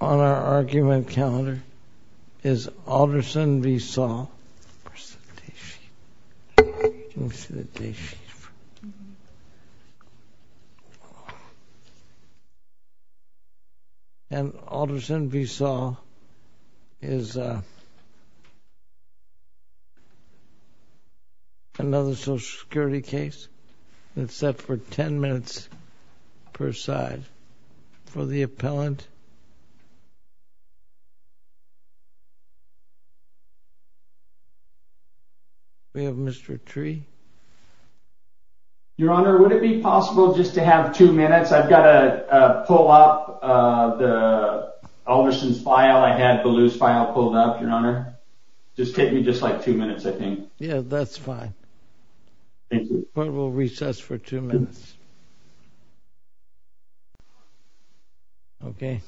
On our argument calendar is Alderson v. Saul. And Alderson v. Saul is another Social Security case. It's set for 10 minutes per side. For the appellant, we have Mr. Tree. Your Honor, would it be possible just to have two minutes? I've got to pull up Alderson's file. I had Ballew's file pulled up, Your Honor. Just take me just like two minutes, I think. Yeah, that's fine. The court will recess for two minutes. Okay.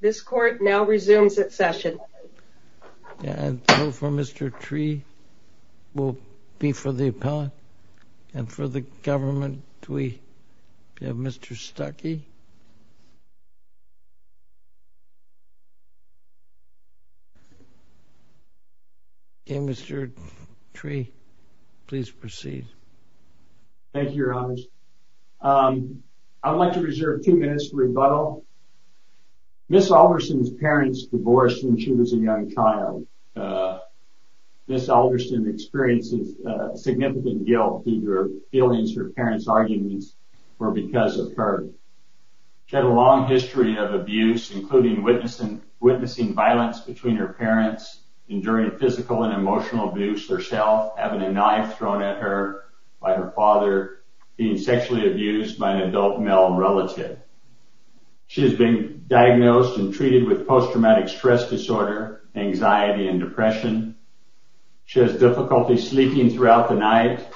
This court now resumes its session. And so for Mr. Tree, it will be for the appellant. And for the government, we have Mr. Stuckey. Okay, Mr. Tree, please proceed. Thank you, Your Honor. I would like to reserve two minutes for rebuttal. Ms. Alderson's parents divorced when she was a young child. Ms. Alderson experiences significant guilt due to feelings her parents' arguments were because of her. She had a long history of abuse, including witnessing violence between her parents, enduring physical and emotional abuse herself, having a knife thrown at her by her father, being sexually abused by an adult male relative. She has been diagnosed and treated with post-traumatic stress disorder, anxiety, and depression. She has difficulty sleeping throughout the night,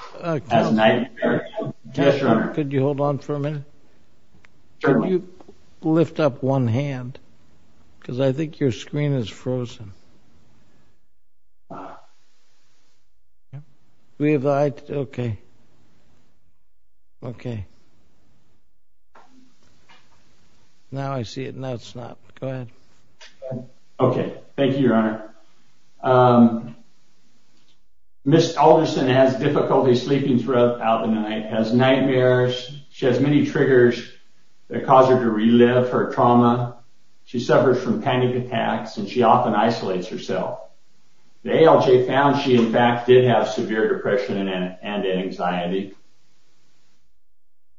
has nightmares. Could you hold on for a minute? Could you lift up one hand? Because I think your screen is frozen. Ah. Do we have the right? Okay. Okay. Now I see it, and now it's not. Go ahead. Okay. Thank you, Your Honor. Ms. Alderson has difficulty sleeping throughout the night, has nightmares. She has many triggers that cause her to relive her trauma. She suffers from panic attacks, and she often isolates herself. The ALJ found she, in fact, did have severe depression and anxiety.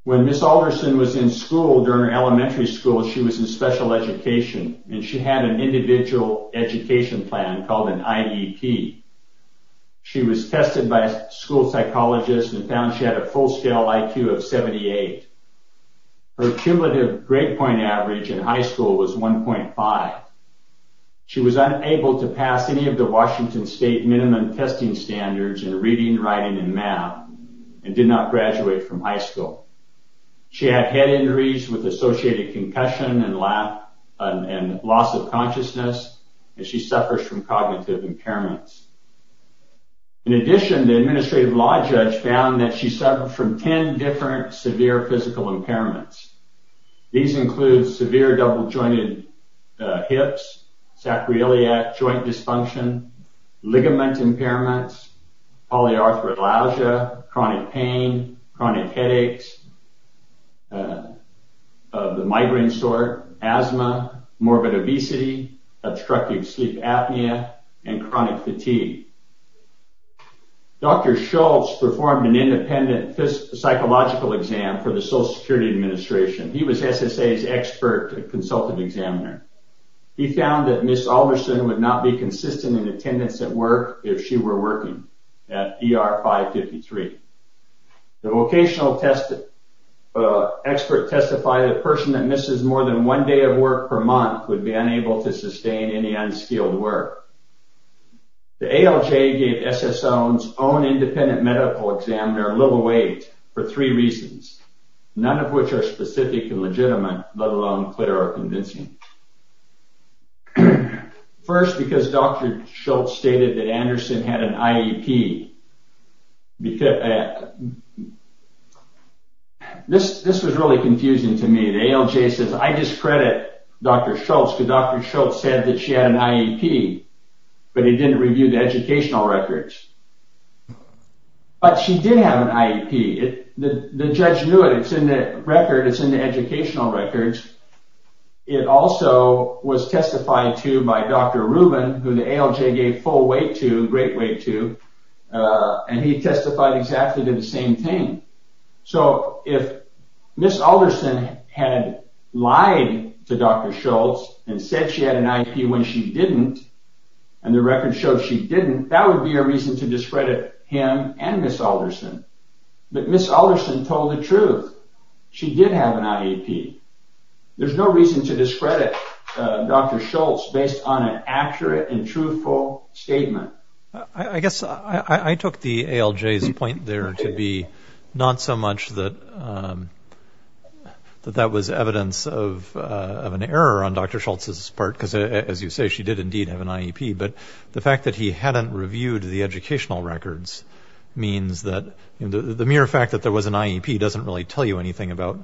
When Ms. Alderson was in school, during elementary school, she was in special education, and she had an individual education plan called an IEP. She was tested by a school psychologist and found she had a full-scale IQ of 78. Her cumulative grade point average in high school was 1.5. She was unable to pass any of the Washington State minimum testing standards in reading, writing, and math, and did not graduate from high school. She had head injuries with associated concussion and loss of consciousness, and she suffers from cognitive impairments. In addition, the administrative law judge found that she suffered from 10 different severe physical impairments. These include severe double-jointed hips, sacroiliac joint dysfunction, ligament impairments, polyarthralalgia, chronic pain, chronic headaches of the migraine sort, asthma, morbid obesity, obstructive sleep apnea, and chronic fatigue. Dr. Schultz performed an independent psychological exam for the Social Security Administration. He was SSA's expert consultant examiner. He found that Ms. Alderson would not be consistent in attendance at work if she were working at ER 553. The vocational expert testified that a person that misses more than one day of work per month would be unable to sustain any unskilled work. The ALJ gave SSO's own independent medical examiner little weight for three reasons, none of which are specific and legitimate, let alone clear or convincing. First, because Dr. Schultz stated that Anderson had an IEP. This was really confusing to me. The ALJ says, I discredit Dr. Schultz because Dr. Schultz said that she had an IEP, but he didn't review the educational records. But she did have an IEP. The judge knew it. It's in the record. It's in the educational records. It also was testified to by Dr. Rubin, who the ALJ gave full weight to, great weight to, and he testified exactly to the same thing. So if Ms. Alderson had lied to Dr. Schultz and said she had an IEP when she didn't, and the record showed she didn't, that would be a reason to discredit him and Ms. Alderson. But Ms. Alderson told the truth. She did have an IEP. There's no reason to discredit Dr. Schultz based on an accurate and truthful statement. I guess I took the ALJ's point there to be not so much that that was evidence of an error on Dr. Schultz's part, because, as you say, she did indeed have an IEP, but the fact that he hadn't reviewed the educational records means that the mere fact that there was an IEP doesn't really tell you anything about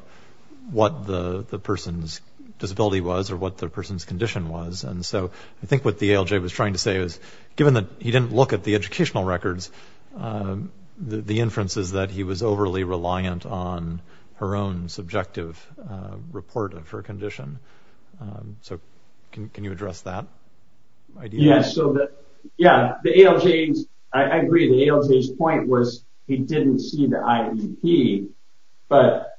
what the person's disability was or what the person's condition was. And so I think what the ALJ was trying to say is, given that he didn't look at the educational records, the inference is that he was overly reliant on her own subjective report of her condition. So can you address that? Yes, so that, yeah, the ALJ's, I agree, the ALJ's point was he didn't see the IEP, but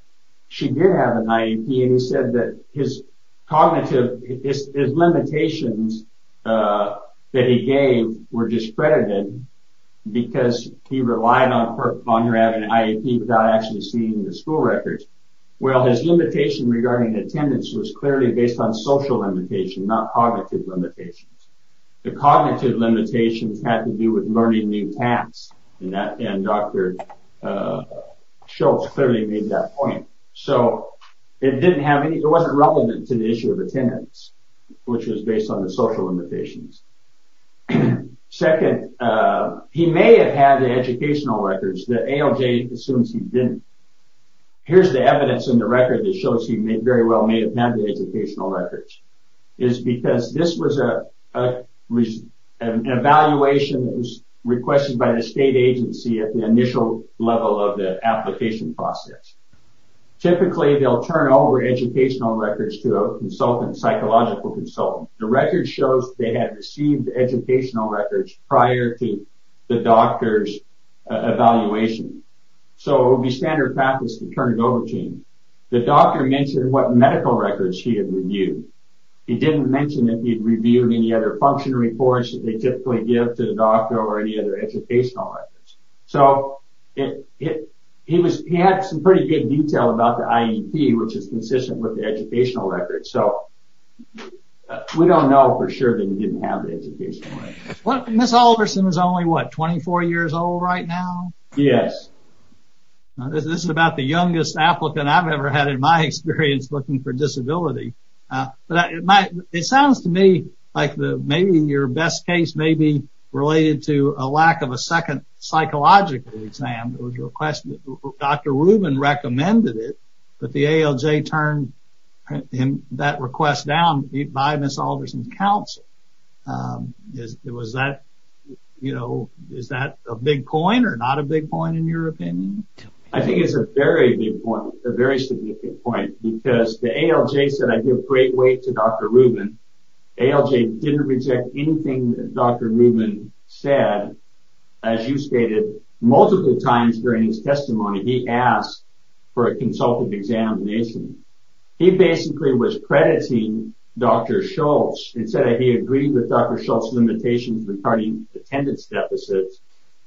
she did have an IEP, and he said that his cognitive, his limitations that he gave were discredited because he relied on her having an IEP without actually seeing the school records. Well, his limitation regarding attendance was clearly based on social limitation, not cognitive limitations. The cognitive limitations had to do with learning new tasks, and Dr. Schultz clearly made that point. So it didn't have any, it wasn't relevant to the issue of attendance, which was based on the social limitations. Second, he may have had the educational records. The ALJ assumes he didn't. Here's the evidence in the record that shows he very well may have had the educational records. It's because this was an evaluation that was requested by the state agency at the initial level of the application process. Typically, they'll turn over educational records to a consultant, psychological consultant. The record shows they had received educational records prior to the doctor's evaluation. So it would be standard practice to turn it over to him. The doctor mentioned what medical records he had reviewed. He didn't mention if he'd reviewed any other function reports that they typically give to the doctor or any other educational records. So he had some pretty good detail about the IEP, which is consistent with the educational records. So we don't know for sure that he didn't have the educational records. Ms. Alderson is only, what, 24 years old right now? Yes. This is about the youngest applicant I've ever had in my experience looking for disability. But it sounds to me like maybe your best case may be related to a lack of a second psychological exam. Dr. Rubin recommended it, but the ALJ turned that request down by Ms. Alderson's counsel. Is that a big point or not a big point in your opinion? I think it's a very big point, a very significant point, because the ALJ said, I give great weight to Dr. Rubin. ALJ didn't reject anything that Dr. Rubin said. As you stated, multiple times during his testimony, he asked for a consultative examination. He basically was crediting Dr. Schultz and said that he agreed with Dr. Schultz's limitations regarding attendance deficits.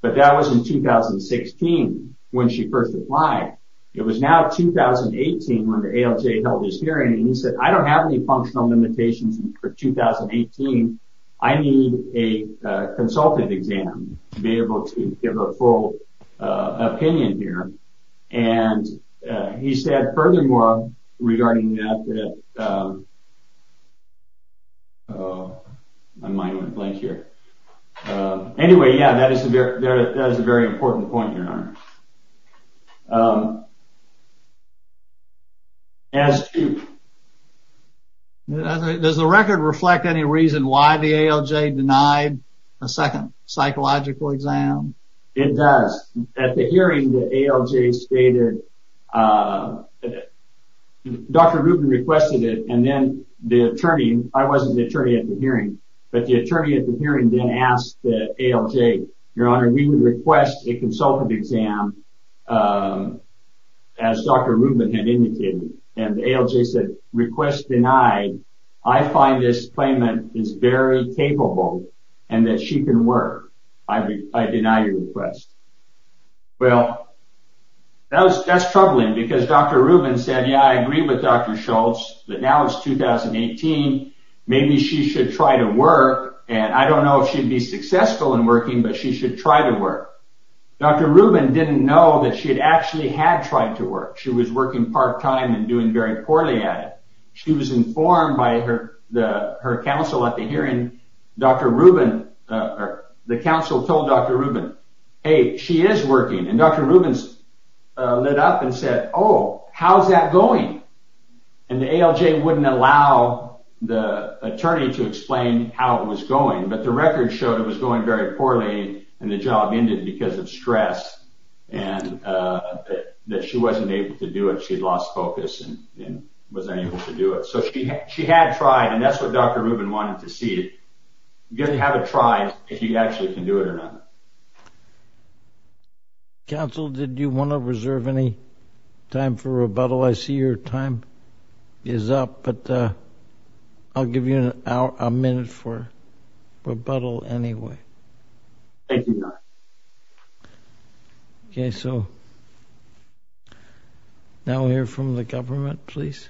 But that was in 2016 when she first applied. It was now 2018 when the ALJ held his hearing, and he said, I don't have any functional limitations for 2018. I need a consultative exam to be able to give a full opinion here. And he said, furthermore, regarding that, I might have went blank here. Anyway, yeah, that is a very important point, Your Honor. Does the record reflect any reason why the ALJ denied a second psychological exam? It does. At the hearing, the ALJ stated, Dr. Rubin requested it, and then the attorney, I wasn't the attorney at the hearing, but the attorney at the hearing then asked the ALJ, Your Honor, we would request a consultative exam, as Dr. Rubin had indicated. And the ALJ said, request denied. I find this claimant is very capable and that she can work. I deny your request. Well, that's troubling because Dr. Rubin said, yeah, I agree with Dr. Schultz, but now it's 2018. Maybe she should try to work. And I don't know if she'd be successful in working, but she should try to work. Dr. Rubin didn't know that she had actually had tried to work. She was working part time and doing very poorly at it. She was informed by her counsel at the hearing. The counsel told Dr. Rubin, hey, she is working, and Dr. Rubin lit up and said, oh, how's that going? And the ALJ wouldn't allow the attorney to explain how it was going, but the record showed it was going very poorly, and the job ended because of stress and that she wasn't able to do it. She'd lost focus and wasn't able to do it. So she had tried, and that's what Dr. Rubin wanted to see. You've got to have a try if you actually can do it or not. Counsel, did you want to reserve any time for rebuttal? I see your time is up, but I'll give you a minute for rebuttal anyway. Thank you, John. Okay, so now we'll hear from the government, please.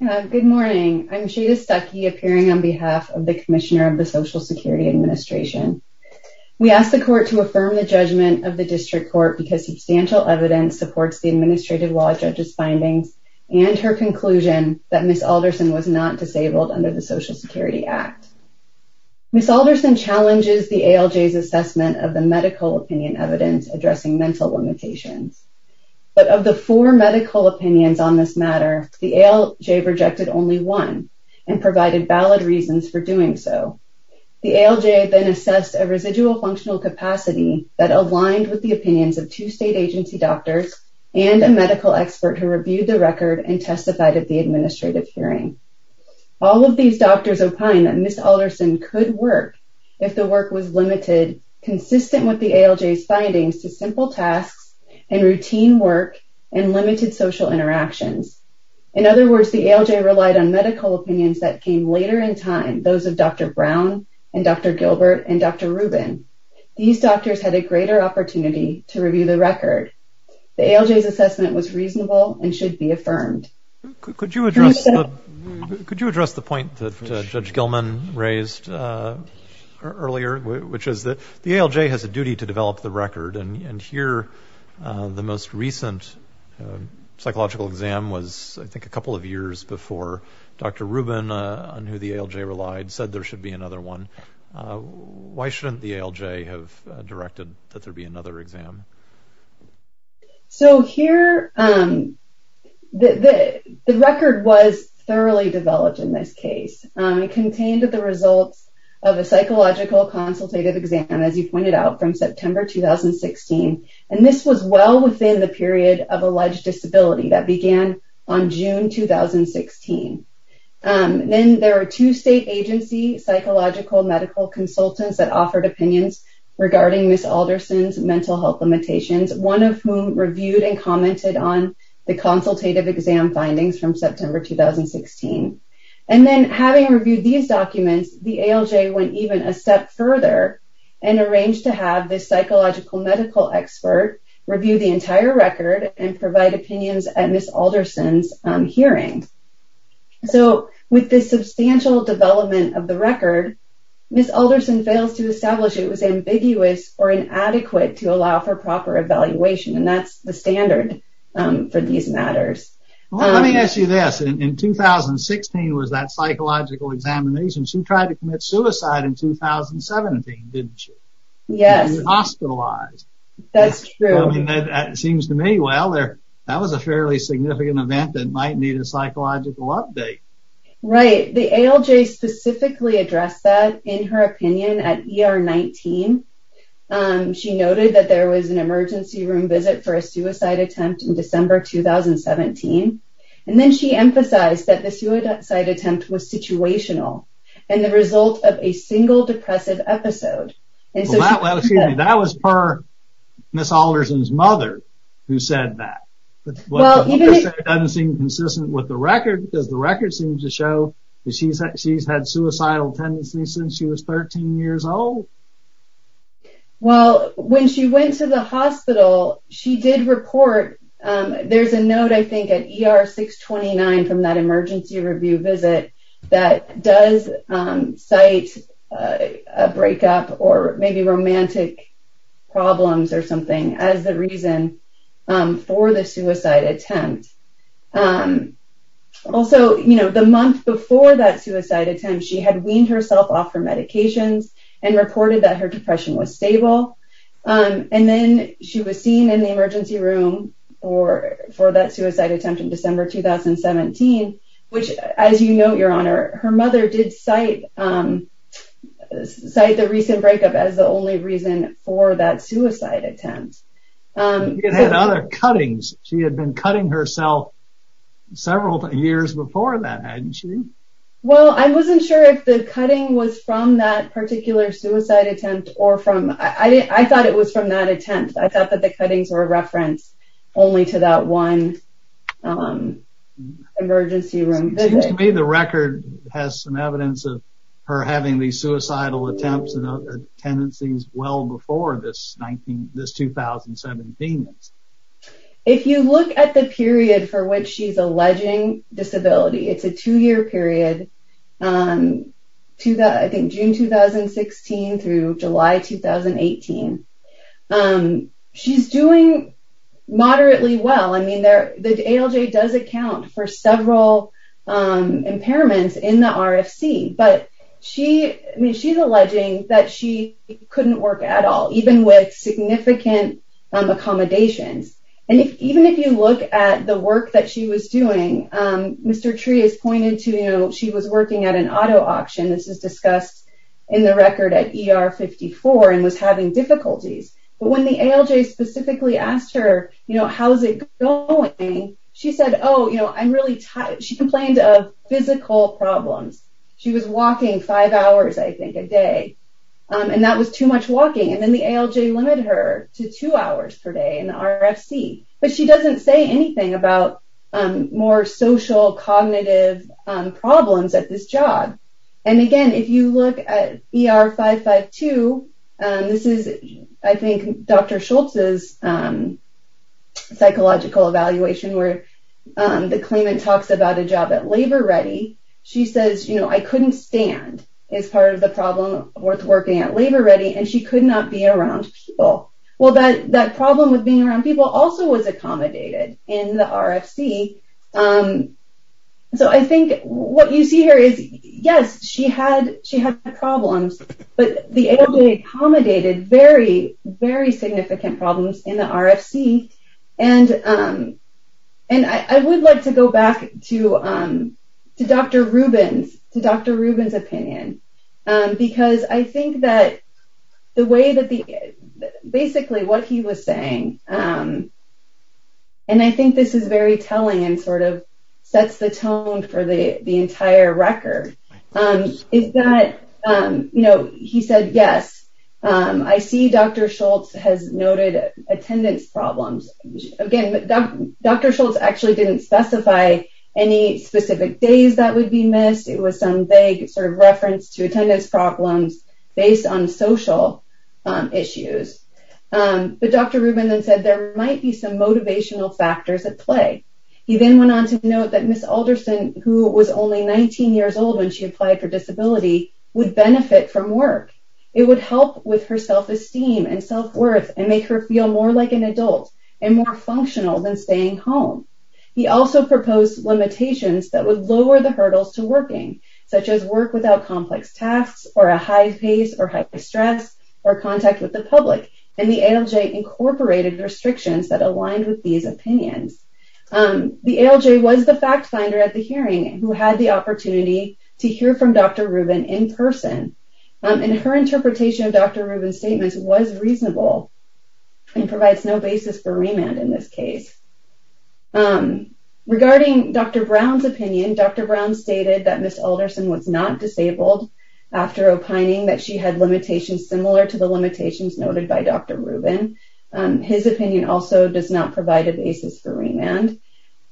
Good morning. I'm Shada Stuckey, appearing on behalf of the commissioner of the Social Security Administration. We ask the court to affirm the judgment of the district court because substantial evidence supports the administrative law judge's findings and her conclusion that Ms. Alderson was not disabled under the Social Security Act. Ms. Alderson challenges the ALJ's assessment of the medical opinion evidence addressing mental limitations. But of the four medical opinions on this matter, the ALJ rejected only one and provided valid reasons for doing so. The ALJ then assessed a residual functional capacity that aligned with the opinions of two state agency doctors and a medical expert who reviewed the record and testified at the administrative hearing. All of these doctors opine that Ms. Alderson could work if the work was limited, consistent with the ALJ's findings to simple tasks and routine work and limited social interactions. In other words, the ALJ relied on medical opinions that came later in time, those of Dr. Brown and Dr. Gilbert and Dr. Rubin. These doctors had a greater opportunity to review the record. The ALJ's assessment was reasonable and should be affirmed. Could you address the point that Judge Gilman raised earlier, which is that the ALJ has a duty to develop the record. And here the most recent psychological exam was, I think, a couple of years before Dr. Rubin, on who the ALJ relied, said there should be another one. Why shouldn't the ALJ have directed that there be another exam? So here, the record was thoroughly developed in this case. It contained the results of a psychological consultative exam, as you pointed out, from September 2016. And this was well within the period of alleged disability that began on June 2016. Then there were two state agency psychological medical consultants that offered opinions regarding Ms. Alderson's mental health limitations, one of whom reviewed and commented on the consultative exam findings from September 2016. And then having reviewed these documents, the ALJ went even a step further and arranged to have this psychological medical expert review the entire record and provide opinions at Ms. Alderson's hearing. So, with this substantial development of the record, Ms. Alderson fails to establish it was ambiguous or inadequate to allow for proper evaluation. And that's the standard for these matters. Well, let me ask you this. In 2016 was that psychological examination. She tried to commit suicide in 2017, didn't she? Yes. She was hospitalized. That's true. It seems to me, well, that was a fairly significant event that might need a psychological update. Right. The ALJ specifically addressed that in her opinion at ER 19. She noted that there was an emergency room visit for a suicide attempt in December 2017. And then she emphasized that the suicide attempt was situational and the result of a single depressive episode. That was per Ms. Alderson's mother who said that. It doesn't seem consistent with the record because the record seems to show that she's had suicidal tendencies since she was 13 years old. Well, when she went to the hospital, she did report. There's a note, I think, at ER 629 from that emergency review visit that does cite a breakup or maybe romantic problems or something as the reason for the suicide attempt. Also, the month before that suicide attempt, she had weaned herself off her medications and reported that her depression was stable. And then she was seen in the emergency room for that suicide attempt in December 2017, which, as you know, Your Honor, her mother did cite the recent breakup as the only reason for that suicide attempt. She had other cuttings. She had been cutting herself several years before that, hadn't she? Well, I wasn't sure if the cutting was from that particular suicide attempt or from... I thought it was from that attempt. I thought that the cuttings were a reference only to that one emergency room visit. It seems to me the record has some evidence of her having these suicidal attempts and tendencies well before this 2017. If you look at the period for which she's alleging disability, it's a two-year period, June 2016 through July 2018. She's doing moderately well. I mean, the ALJ does account for several impairments in the RFC. But she's alleging that she couldn't work at all, even with significant accommodations. And even if you look at the work that she was doing, Mr. Tree has pointed to, you know, she was working at an auto auction. This is discussed in the record at ER 54 and was having difficulties. But when the ALJ specifically asked her, you know, how's it going, she said, oh, you know, I'm really tired. She complained of physical problems. She was walking five hours, I think, a day. And that was too much walking. And then the ALJ limited her to two hours per day in the RFC. But she doesn't say anything about more social, cognitive problems at this job. And again, if you look at ER 552, this is, I think, Dr. Schultz's psychological evaluation where the claimant talks about a job at Labor Ready. She says, you know, I couldn't stand as part of the problem worth working at Labor Ready. And she could not be around people. Well, that problem with being around people also was accommodated in the RFC. So I think what you see here is, yes, she had problems. But the ALJ accommodated very, very significant problems in the RFC. And I would like to go back to Dr. Rubin's opinion. Because I think that the way that basically what he was saying, and I think this is very telling and sort of sets the tone for the entire record, is that, you know, he said, yes, I see Dr. Schultz has noted attendance problems. Again, Dr. Schultz actually didn't specify any specific days that would be missed. It was some vague sort of reference to attendance problems based on social issues. But Dr. Rubin then said there might be some motivational factors at play. He then went on to note that Ms. Alderson, who was only 19 years old when she applied for disability, would benefit from work. It would help with her self-esteem and self-worth and make her feel more like an adult and more functional than staying home. He also proposed limitations that would lower the hurdles to working, such as work without complex tasks or a high pace or high stress or contact with the public. And the ALJ incorporated restrictions that aligned with these opinions. The ALJ was the fact finder at the hearing who had the opportunity to hear from Dr. Rubin in person. And her interpretation of Dr. Rubin's statements was reasonable and provides no basis for remand in this case. Regarding Dr. Brown's opinion, Dr. Brown stated that Ms. Alderson was not disabled after opining that she had limitations similar to the limitations noted by Dr. Rubin. His opinion also does not provide a basis for remand.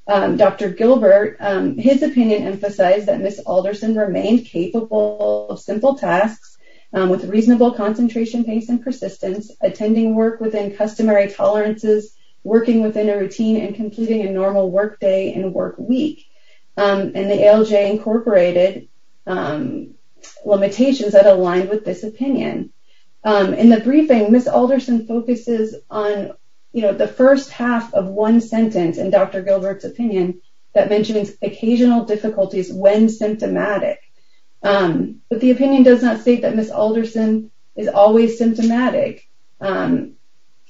Dr. Gilbert, his opinion emphasized that Ms. Alderson remained capable of simple tasks with reasonable concentration, pace, and persistence, attending work within customary tolerances, working within a routine, and completing a normal work day and work week. And the ALJ incorporated limitations that aligned with this opinion. In the briefing, Ms. Alderson focuses on the first half of one sentence in Dr. Gilbert's opinion that mentions occasional difficulties when symptomatic. But the opinion does not state that Ms. Alderson is always symptomatic.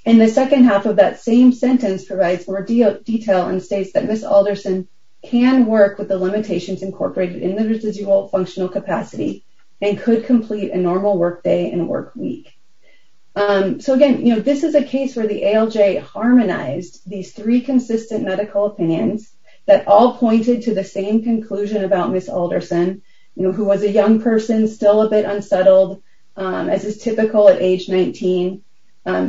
And the second half of that same sentence provides more detail and states that Ms. Alderson can work with the limitations incorporated in the residual functional capacity and could complete a normal work day and work week. So again, this is a case where the ALJ harmonized these three consistent medical opinions that all pointed to the same conclusion about Ms. Alderson, who was a young person, still a bit unsettled, as is typical at age 19.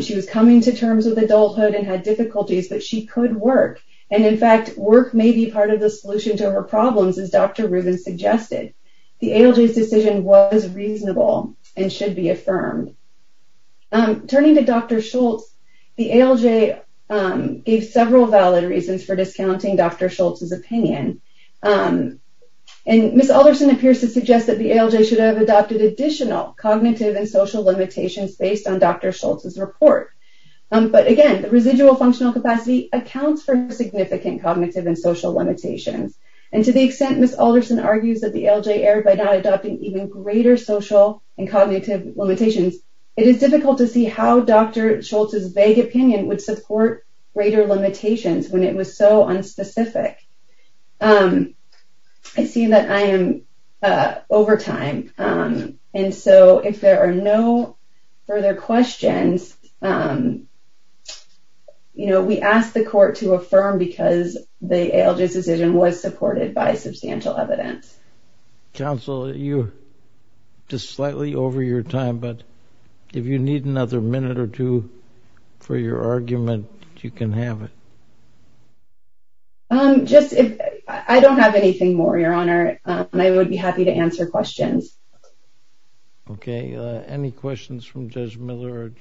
She was coming to terms with adulthood and had difficulties, but she could work. And in fact, work may be part of the solution to her problems, as Dr. Rubin suggested. The ALJ's decision was reasonable and should be affirmed. Turning to Dr. Schultz, the ALJ gave several valid reasons for discounting Dr. Schultz's opinion. And Ms. Alderson appears to suggest that the ALJ should have adopted additional cognitive and social limitations based on Dr. Schultz's report. But again, the residual functional capacity accounts for significant cognitive and social limitations. And to the extent Ms. Alderson argues that the ALJ erred by not adopting even greater social and cognitive limitations, it is difficult to see how Dr. Schultz's vague opinion would support greater limitations when it was so unspecific. I see that I am over time, and so if there are no further questions, we ask the court to affirm because the ALJ's decision was supported by substantial evidence. Counsel, you're just slightly over your time, but if you need another minute or two for your argument, you can have it. I don't have anything more, Your Honor, and I would be happy to answer questions. Okay. Any questions from Judge Miller or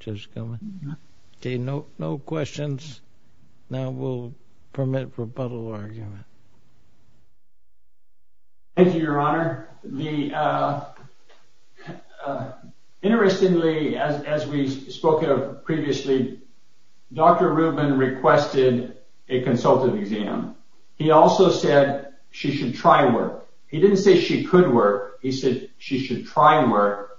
Judge Gilman? Okay, no questions. Now we'll permit rebuttal argument. Thank you, Your Honor. Interestingly, as we spoke of previously, Dr. Rubin requested a consultative exam. He also said she should try work. He didn't say she could work. He said she should try work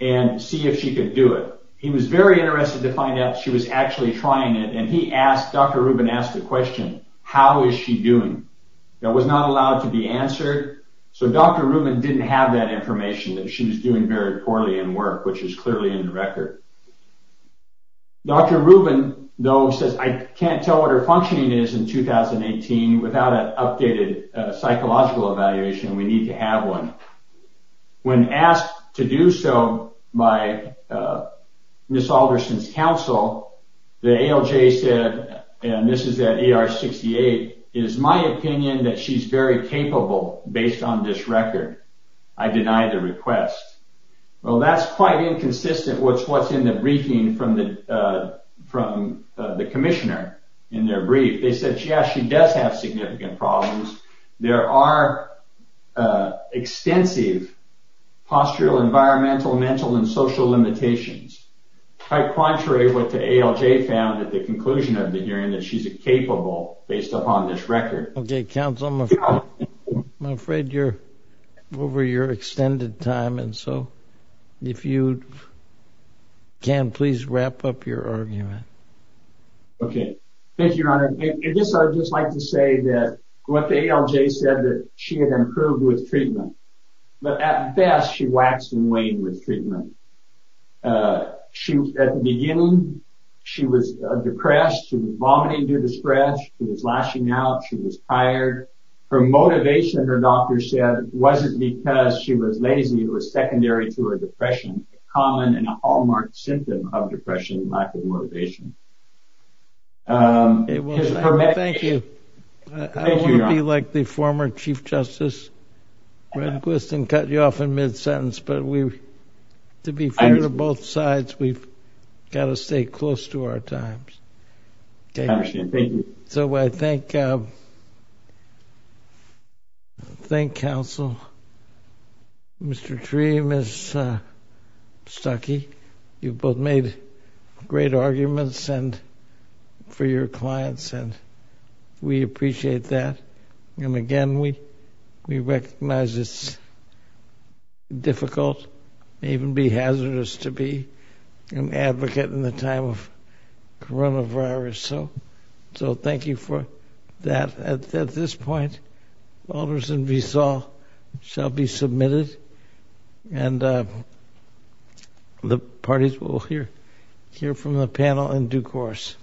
and see if she could do it. He was very interested to find out if she was actually trying it, and Dr. Rubin asked the question, how is she doing? That was not allowed to be answered, so Dr. Rubin didn't have that information that she was doing very poorly in work, which is clearly in the record. Dr. Rubin, though, says, I can't tell what her functioning is in 2018 without an updated psychological evaluation. We need to have one. When asked to do so by Ms. Alderson's counsel, the ALJ said, and this is at ER 68, it is my opinion that she's very capable based on this record. I deny the request. Well, that's quite inconsistent with what's in the briefing from the commissioner in their brief. They said, yeah, she does have significant problems. There are extensive postural, environmental, mental, and social limitations, quite contrary to what the ALJ found at the conclusion of the hearing, that she's capable based upon this record. Okay, counsel, I'm afraid you're over your extended time, and so if you can, please wrap up your argument. I guess I would just like to say that what the ALJ said, that she had improved with treatment, but at best, she waxed and waned with treatment. At the beginning, she was depressed. She was vomiting due to stress. She was lashing out. She was tired. Her motivation, her doctor said, wasn't because she was lazy. It was secondary to her depression, a common and a hallmark symptom of depression, lack of motivation. Thank you. I wouldn't be like the former Chief Justice Redquist and cut you off in mid-sentence, but to be fair to both sides, we've got to stay close to our times. I understand. Thank you. So I thank counsel, Mr. Tree, Ms. Stuckey. You've both made great arguments for your clients, and we appreciate that. Again, we recognize it's difficult and even be hazardous to be an advocate in the time of coronavirus. So thank you for that. At this point, Alderson v. Saul shall be submitted, and the parties will hear from the panel in due course.